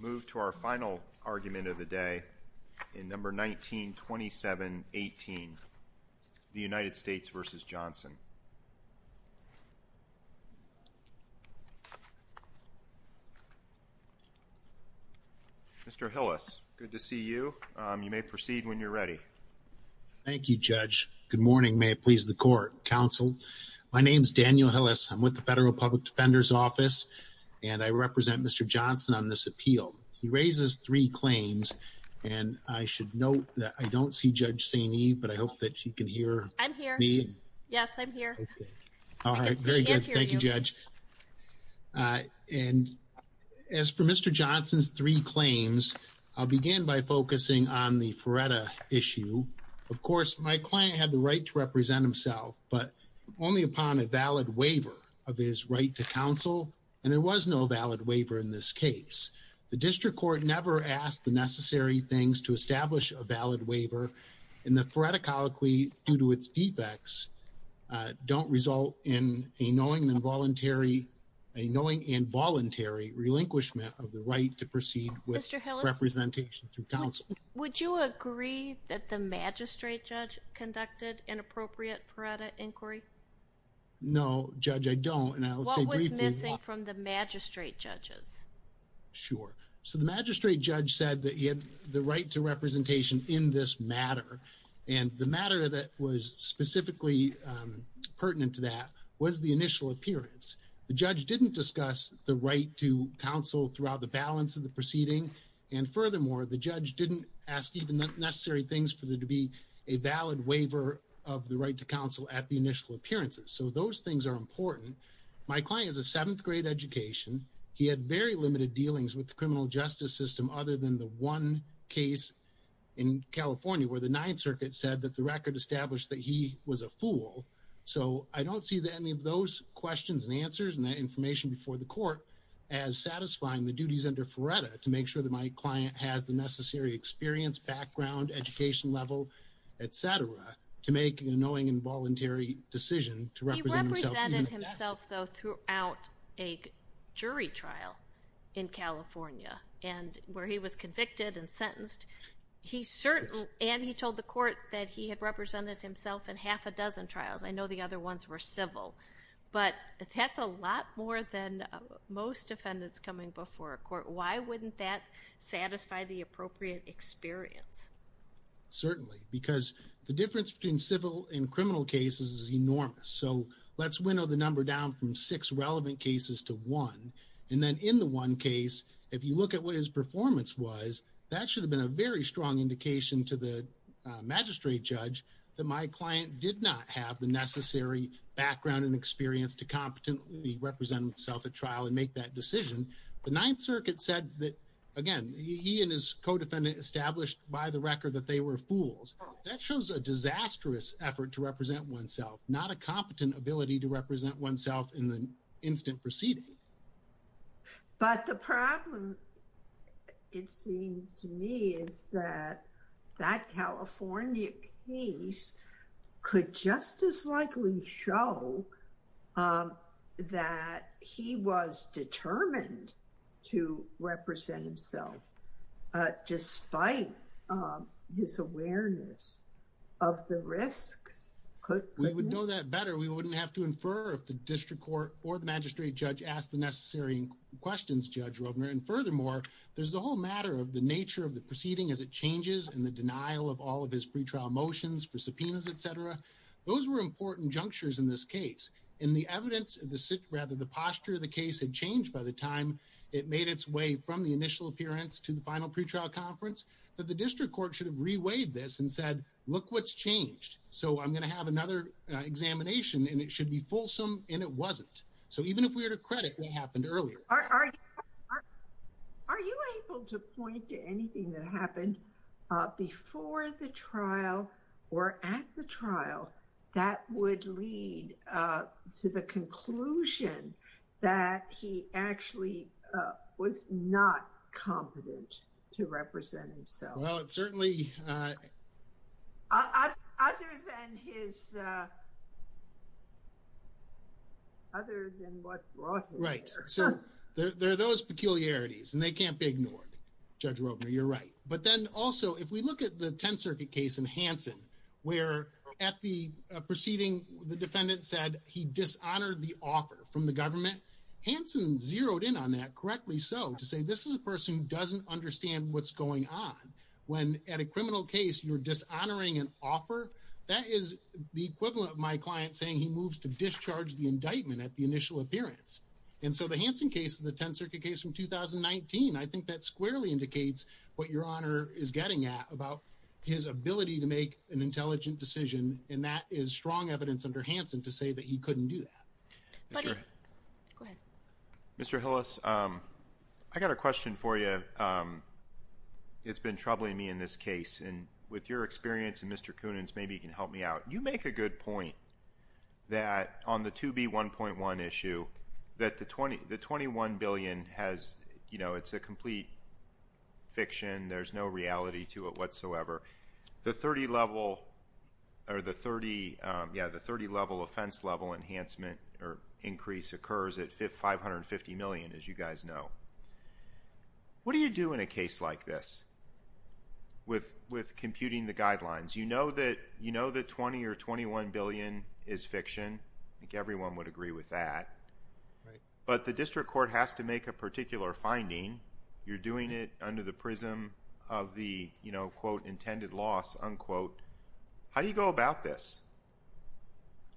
Mr. Hillis, good to see you. You may proceed when you're ready. Thank you, Judge. Good morning. May it please the Court, Counsel. My name is Daniel Hillis. I'm with the Federal Public Defender's Office, and I represent Mr. Johnson on this appeal. He raises three claims, and I should note that I don't see Judge Saini, but I hope that you can hear me. I'm here. Yes, I'm here. All right. Very good. Thank you, Judge. And as for Mr. Johnson's three claims, I'll begin by focusing on the FREDA issue. Of course, my client had the right to represent himself, but only upon a valid waiver of his right to counsel, and there was no valid waiver in this case. The District Court never asked the necessary things to establish a valid waiver, and the FREDA colloquy, due to its defects, don't result in a knowing and voluntary relinquishment of the right to proceed with representation through counsel. Would you agree that the magistrate judge conducted inappropriate FREDA inquiry? No, Judge, I don't, and I'll say briefly... What was missing from the magistrate judge's? Sure. So the magistrate judge said that he had the right to representation in this matter, and the matter that was specifically pertinent to that was the initial appearance. The judge didn't discuss the right to counsel throughout the balance of the proceeding, and furthermore, the judge didn't ask even the necessary things for there to be a valid waiver of the right to counsel at the initial appearances. So those things are important. My client is a seventh grade education. He had very limited dealings with the criminal justice system other than the one case in California where the Ninth Circuit said that the record established that he was a fool. So I don't see any of those questions and answers and that information before the court as satisfying the duties under FREDA to make sure that my client has the necessary experience, background, education level, et cetera, to make a knowing and voluntary decision to represent himself. He represented himself, though, throughout a jury trial in California, and where he was convicted and sentenced, he certainly... And he told the court that he had represented himself in half a dozen trials. I know the other ones were civil, but that's a lot more than most defendants coming before a court. Why wouldn't that satisfy the appropriate experience? Certainly, because the difference between civil and criminal cases is enormous. So let's winnow the number down from six relevant cases to one, and then in the one case, if you look at what his performance was, that should have been a very strong indication to the magistrate judge that my client did not have the necessary background and experience to competently represent himself at trial and make that decision. The Ninth Circuit said that, again, he and his co-defendant established by the record that they were fools. That shows a disastrous effort to represent oneself, not a competent ability to represent oneself in the instant preceding. But the problem, it seems to me, is that that California case could just as likely show that he was determined to represent himself, despite his awareness of the risks. We would know that better. We wouldn't have to infer if the district court or the magistrate judge asked the necessary questions, Judge Rovner. And furthermore, there's the whole matter of the nature of the proceeding as it changes and the denial of all of his pretrial motions for subpoenas, etc. Those were important junctures in this case. In the evidence, rather, the posture of the case had changed by the time it made its way from the initial appearance to the final pretrial conference, that the district court should have reweighed this and said, look what's changed. So I'm going to have another examination, and it should be fulsome, and it wasn't. So even if we were to credit what happened earlier. Are you able to point to anything that happened before the trial or at the trial that would lead to the conclusion that he actually was not competent to represent himself? Well, it certainly. Other than his. Other than what? Right. So there are those peculiarities and they can't be ignored. Judge Rovner, you're right. But then also, if we look at the Tenth Circuit case in Hansen, where at the proceeding, the defendant said he dishonored the author from the government. Hansen zeroed in on that correctly. So to say this is a person who doesn't know what's going on when at a criminal case, you're dishonoring an offer that is the equivalent of my client saying he moves to discharge the indictment at the initial appearance. And so the Hansen case, the Tenth Circuit case from 2019, I think that squarely indicates what your honor is getting at about his ability to make an intelligent decision. And that is strong evidence under Hansen to say that he couldn't do that. Mr. Hillis, I got a question for you. It's been troubling me in this case. And with your experience and Mr. Kunin's, maybe you can help me out. You make a good point that on the 2B1.1 issue that the 20, the 21 billion has, you know, it's a complete fiction. There's no reality to it whatsoever. The 30 level or the 30. Yeah, the 30 level offense level enhancement or increase occurs at 550 million, as you guys know. What do you do in a case like this with computing the guidelines? You know that 20 or 21 billion is fiction. I think everyone would agree with that. But the district court has to make a particular finding. You're doing it under the prism of the, you know, quote, intended loss, unquote. How do you go about this?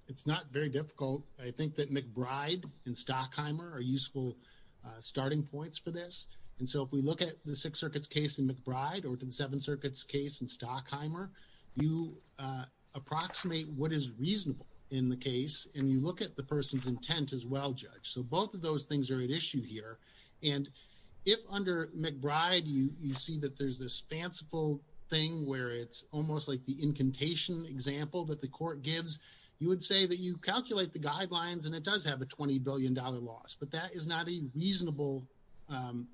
It's not very difficult. I think that McBride and Stockheimer are useful starting points for this. And so if we look at the Sixth Circuit's case in McBride or the Seventh Circuit's case in Stockheimer, you approximate what is reasonable in the case. And you look at the person's intent as well, Judge. So both of those things are at issue here. And if under McBride, you see that there's this fanciful thing where it's almost like the incantation example that the court gives, you would say that you calculate the guidelines and it does have a $20 billion loss. But that is not a reasonable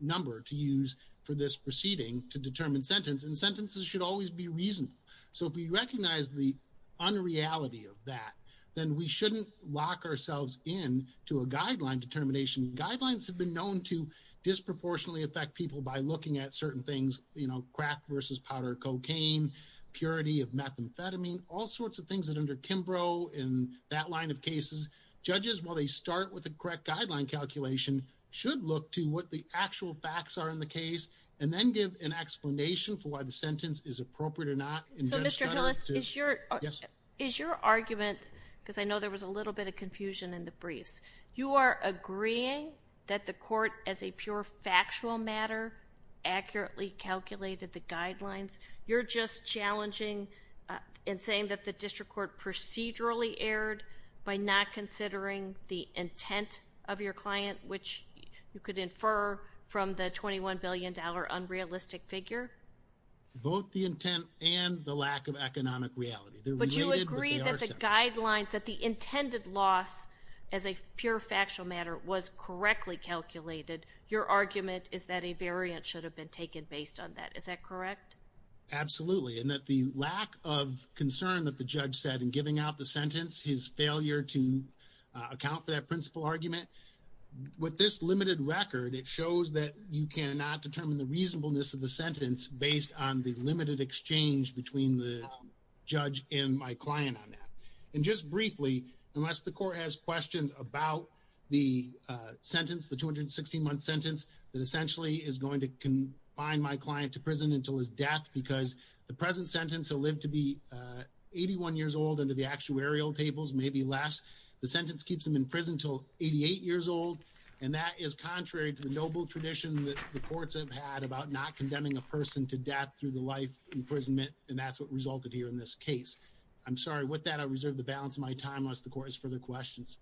number to use for this proceeding to determine sentence. And sentences should always be reasonable. So if we recognize the unreality of that, then we shouldn't lock ourselves in to a guideline determination. Guidelines have been known to disproportionately affect people by looking at certain things, you know, crack versus powder cocaine, purity of methamphetamine, all sorts of things that under Kimbrough in that line of cases, judges, while they start with the correct guideline calculation, should look to what the actual facts are in the case and then give an explanation for why the sentence is appropriate or not. So Mr. Hillis, is your argument, because I know there was a little bit of confusion in the briefs, you are agreeing that the court, as a pure factual matter, accurately calculated the guidelines? You're just challenging and saying that the district court procedurally erred by not considering the intent of your client, which you could infer from the $21 billion unrealistic figure? Both the intent and the lack of economic reality. But you agree that the guidelines, that the intended loss as a pure factual matter was correctly calculated. Your argument is that a variant should have been taken based on that. Is that correct? Absolutely. And that the lack of concern that the judge said in giving out the sentence, his failure to account for that principle argument, with this limited record, it shows that you cannot determine the reasonableness of the sentence based on the limited exchange between the judge and my client on that. And just briefly, unless the court has questions about the sentence, the 216-month sentence that essentially is going to confine my client to prison until his death, because the present sentence he'll live to be 81 years old under the actuarial tables, maybe less. The sentence keeps him in prison until 88 years old. And that is contrary to the noble tradition that the courts have had about not condemning a person to death through the life imprisonment. And that's what resulted here in this case. I'm sorry. With that, I reserve the balance of my time, unless the court has further questions.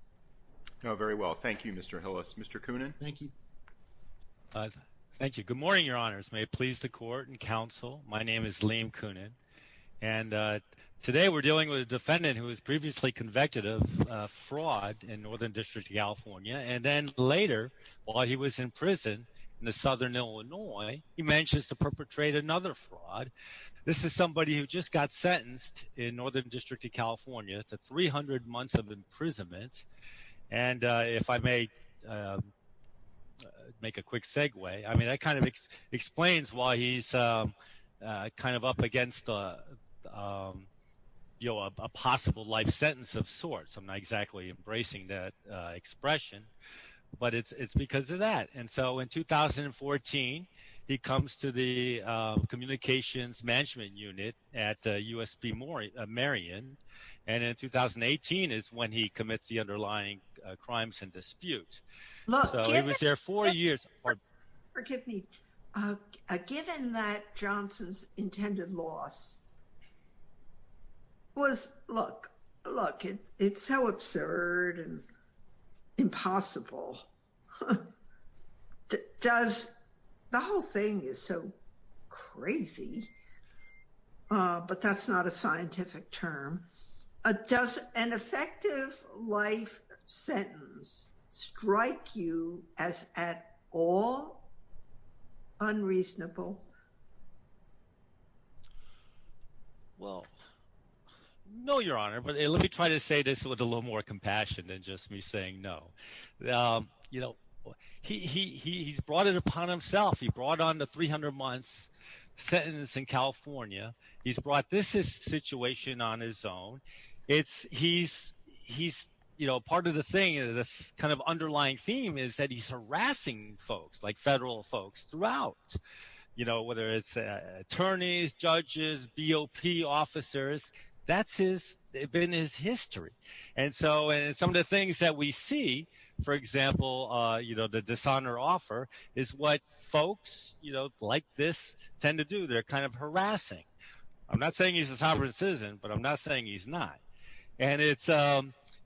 Very well. Thank you, Mr. Hillis. Mr. Coonan. Thank you. Thank you. Good morning, your honors. May it please the court and counsel. My name is Liam Coonan. And today we're dealing with a defendant who was previously convicted of murder in Illinois. He manages to perpetrate another fraud. This is somebody who just got sentenced in Northern District of California to 300 months of imprisonment. And if I may make a quick segue, I mean, that kind of explains why he's kind of up against, you know, a possible life sentence of sorts. I'm not exactly embracing that expression, but it's because of that. And so in 2014, he comes to the communications management unit at USP Marion. And in 2018 is when he commits the underlying crimes and dispute. So he was there four years. Forgive me. Given that Johnson's intended loss was, look, look, it's so absurd and impossible. Does the whole thing is so crazy. But that's not a scientific term. Does an effective life sentence strike you as at all unreasonable? Well, no, your honor. But let me try to say this with a little more compassion than just me saying no. You know, he's brought it upon himself. He brought on the 300 months sentence in California. He's brought this situation on his own. It's he's he's, you know, part of the thing, the kind of underlying theme is that he's harassing folks like federal folks throughout, you know, whether it's attorneys, judges, BOP officers, that's his been his history. And so some of the things that we see, for example, you know, the dishonor offer is what I'm not saying he's a sovereign citizen, but I'm not saying he's not. And it's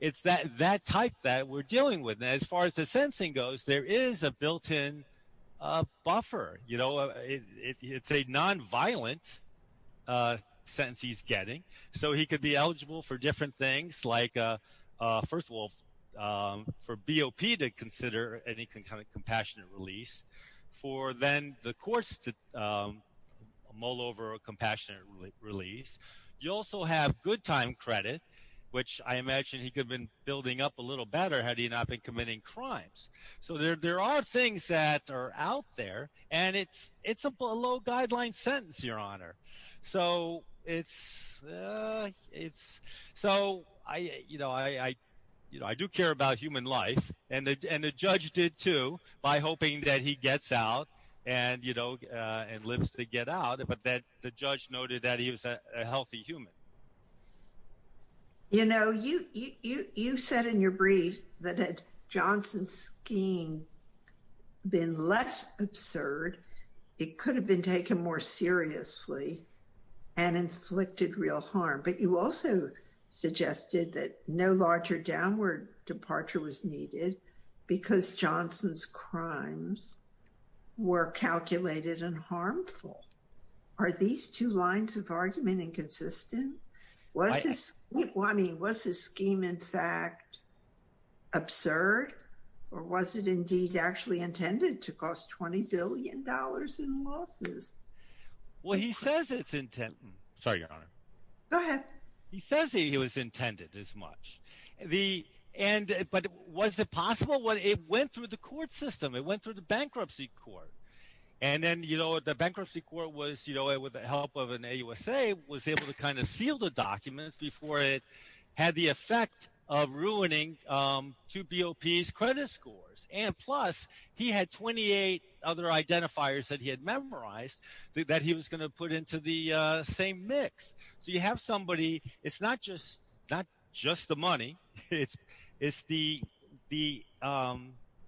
it's that that type that we're dealing with. As far as the sensing goes, there is a built in buffer. You know, it's a nonviolent sentence he's getting. So he could be eligible for different things like, first of all, for BOP to consider any compassionate release for then the courts to mull over a compassionate release. You also have good time credit, which I imagine he could have been building up a little better had he not been committing crimes. So there are things that are out there and it's it's a below guideline sentence, Your Honor. So it's it's so I you know, I you know, I do care about human life. And the judge did, too, by hoping that he gets out and, you know, and lives to get out. But that the judge noted that he was a healthy human. You know, you you said in your brief that Johnson's scheme been less absurd. It could have been taken more seriously and inflicted real harm. But you also suggested that no larger downward departure was needed because Johnson's crimes were calculated and harmful. Are these two lines of argument inconsistent? Was this I mean, was this scheme, in fact, absurd or was it indeed actually intended to cost 20 billion dollars in losses? Well, he says it's intent. Sorry, Your Honor. Go ahead. He says he was intended as much the end. But was it possible what it went through the court system? It went through the bankruptcy court. And then, you know, the bankruptcy court was, you know, with the help of an AUSA, was able to kind of seal the documents before it had the effect of ruining two BOP's credit scores. And plus, he had 28 other identifiers that he had memorized that he was going to put into the same mix. So you have somebody it's not just not just the money. It's it's the the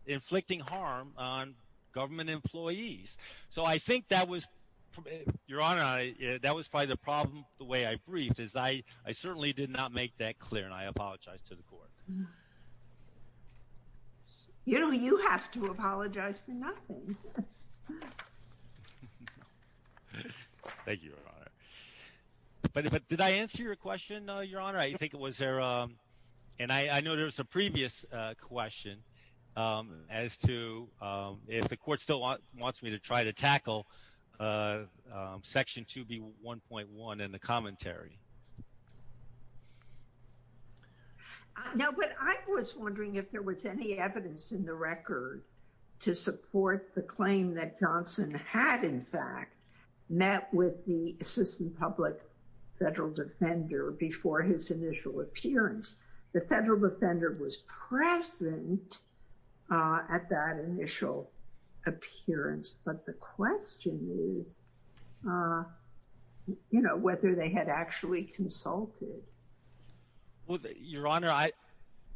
inflicting harm on government employees. So I think that was your honor. That was probably the problem. The way I briefed is I I certainly did not make that clear. And I apologize to the court. You know, you have to apologize for nothing. Thank you. But did I answer your question, Your Honor? I think it was there. And I know there's a previous question as to if the court still wants me to try to tackle Section 2B 1.1 and the commentary. Now, what I was wondering if there was any evidence in the record to support the claim that Johnson had, in fact, met with the assistant public federal defender before his initial appearance. The federal defender was present at that initial appearance. But the question is, you know, whether they had actually consulted. Well, Your Honor, I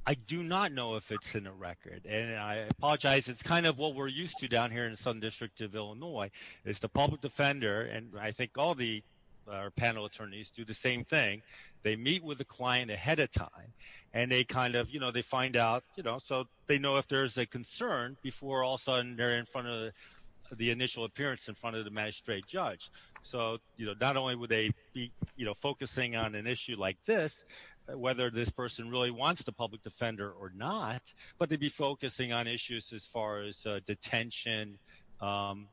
I do not know if it's in the record. And I apologize. It's kind of what we're used to down here in the Southern District of Illinois is the public defender. And I think all the panel attorneys do the same thing. They meet with the client ahead of time and they kind of, you know, they find out, you know, so they know if there is a concern before all sudden they're in front of the initial appearance in front of the magistrate judge. So, you know, not only would they be focusing on an issue like this, whether this person really wants the public defender or not, but they'd be focusing on issues as far as detention,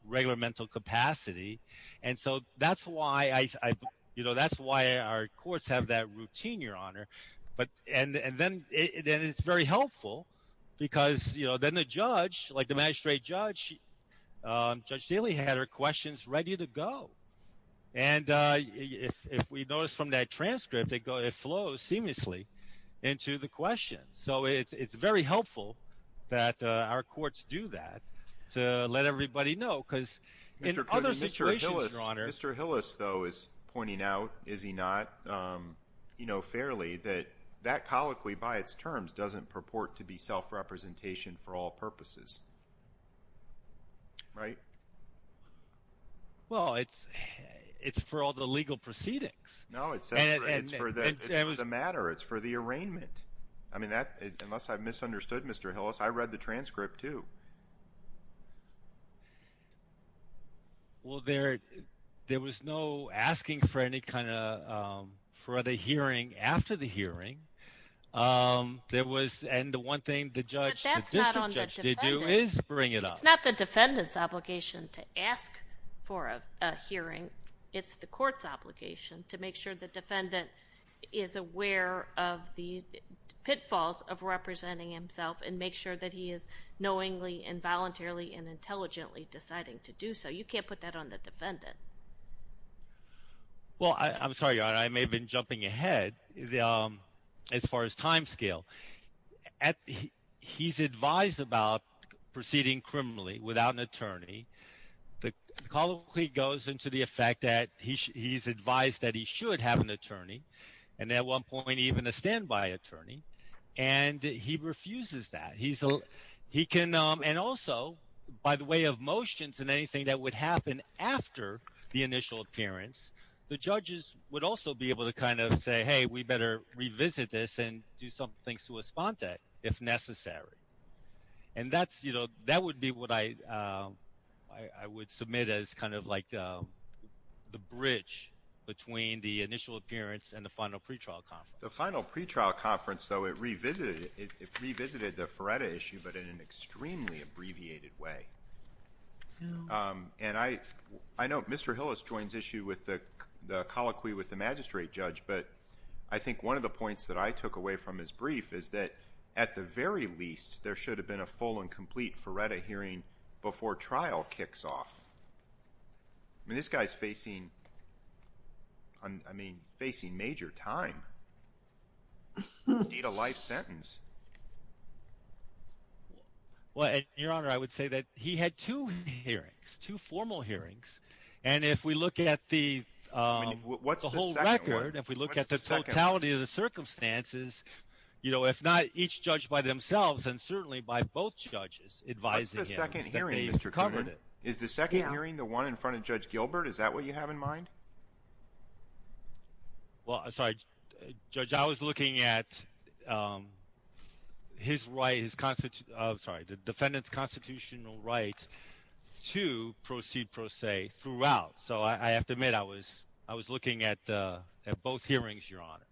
regular mental capacity. And so that's why, you know, that's why our courts have that routine, Your Honor. But and then it's very helpful because, you know, then the judge, like the magistrate judge, Judge Daley had her questions ready to go. And if we notice from that transcript, they go it flows seamlessly into the question. So it's very helpful that our courts do that to let everybody know, because in other situations, Your Honor. Mr. Hillis, though, is pointing out, is he not, you know, fairly that that colloquy by its terms doesn't purport to be self-representation for all purposes. Right? Well, it's it's for all the legal proceedings. No, it's for the matter. It's for the arraignment. I mean, that unless I've Well, there there was no asking for any kind of for the hearing after the hearing. There was and the one thing the judge did do is bring it up. It's not the defendant's obligation to ask for a hearing. It's the court's obligation to make sure the defendant is aware of the pitfalls of representing himself and make sure that he is knowingly and voluntarily and intelligently deciding to do so. You can't put that on the defendant. Well, I'm sorry, Your Honor, I may have been jumping ahead as far as time scale. He's advised about proceeding criminally without an attorney. The colloquy goes into the effect that he's advised that he should have an attorney and at one point even a standby attorney and he refuses that he's he can and also by the way of motions and anything that would happen after the initial appearance, the judges would also be able to kind of say, hey, we better revisit this and do some things to respond to it if necessary. And that's you know, that would be what I I would submit as kind of like the bridge between the initial appearance and the final pre-trial conference. The final pre-trial conference though it revisited it revisited the Feretta issue but in an extremely abbreviated way. And I know Mr. Hillis joins issue with the colloquy with the magistrate judge but I think one of the points that I took away from his brief is that at the very least there should have been a full and complete Feretta hearing before trial kicks off. I mean, this guy's facing, I mean, facing major time. Need a life sentence. Well, Your Honor, I would say that he had two hearings, two formal hearings. And if we look at the whole record, if we look at the totality of the circumstances, you know, if not each judge by themselves and certainly by both judges advising him. What's the second hearing, Mr. Kuhnert? Is the second hearing the one in front of Judge Gilbert? Is that what you have in mind? Well, I'm sorry, Judge, I was looking at his right, his constitutional, I'm sorry, the defendant's constitutional right to proceed pro se throughout. So I have to admit, I was looking at both hearings, Your Honor.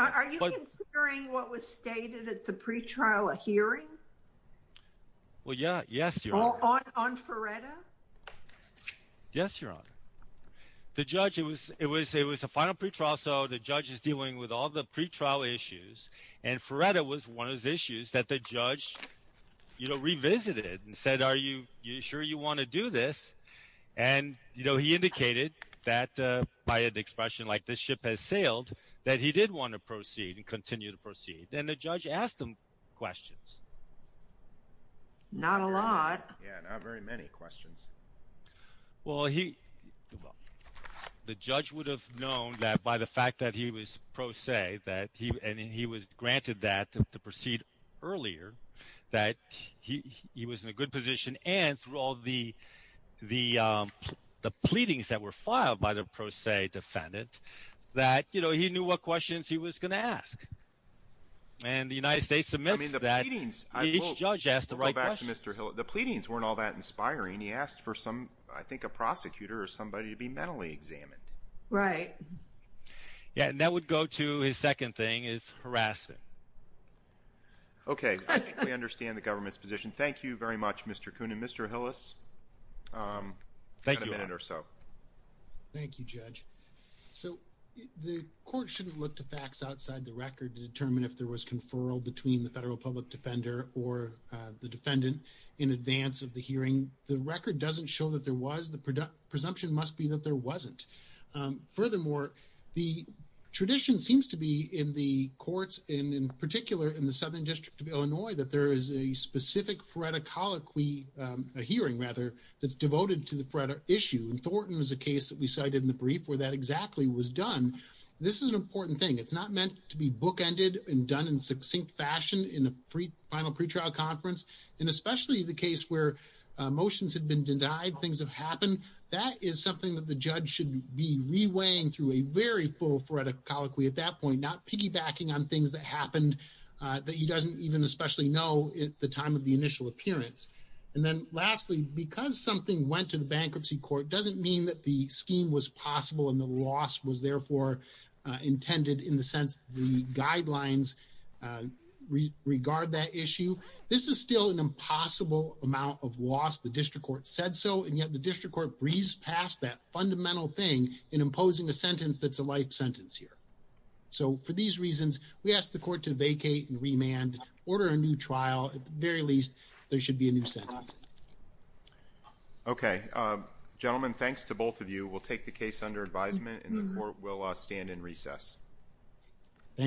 Are you considering what was stated at the pre-trial hearing? Well, yeah, yes, Your Honor. On Feretta? Yes, Your Honor. The judge, it was a final pre-trial, so the judge is dealing with all the pre-trial issues and Feretta was one of those issues that the judge, you know, revisited and said, are you sure you want to do this? And, you know, he indicated that by an expression like, this ship has sailed, that he did want to proceed and continue to proceed. And the judge asked him questions. Not a lot. Yeah, not very many questions. Well, he, well, the judge would have known that by the fact that he was pro se that he, and he was granted that to proceed earlier, that he was in a good position and through all the pleadings that were filed by the pro se defendant, that, you know, he knew what questions he was going to ask. And the United States admits that each judge asked the right question. The pleadings weren't all that inspiring. He asked for some, I think a prosecutor or somebody to be mentally examined. Right. Yeah, and that would go to his second thing is harassment. Okay. I think we understand the government's position. Thank you very much, Mr. Kuhn. And Mr. Hillis, you've got a minute or so. Thank you, Judge. So the court shouldn't look to facts outside the record to determine if there was conferral between the federal public defender or the defendant in advance of the hearing. The record doesn't show that there was. The presumption must be that there wasn't. Furthermore, the tradition seems to be in the courts and in particular in the Southern District of Illinois, that there is a specific phoreticology, a hearing rather, that's devoted to the issue. And Thornton was a case that we cited in the brief where that exactly was done. This is an important thing. It's not meant to be bookended and done in succinct fashion in a final pretrial conference. And especially the case where motions had been denied, things have happened. That is something that the judge should be reweighing through a very full phoreticology at that point, not piggybacking on things that happened that he doesn't even especially know at the time of the initial appearance. And then lastly, because something went to the bankruptcy court doesn't mean that the scheme was possible and the loss was therefore intended in the sense the guidelines regard that issue. This is still an impossible amount of loss. The district court said so, and yet the district court breezed past that fundamental thing in imposing a sentence that's a life sentence here. So for these reasons, we ask the court to vacate and remand, order a new trial. At the very least, there should be a new sentence. Okay. Gentlemen, thanks to both of you. We'll take the case under advisement, and the court will stand in recess. Thank you.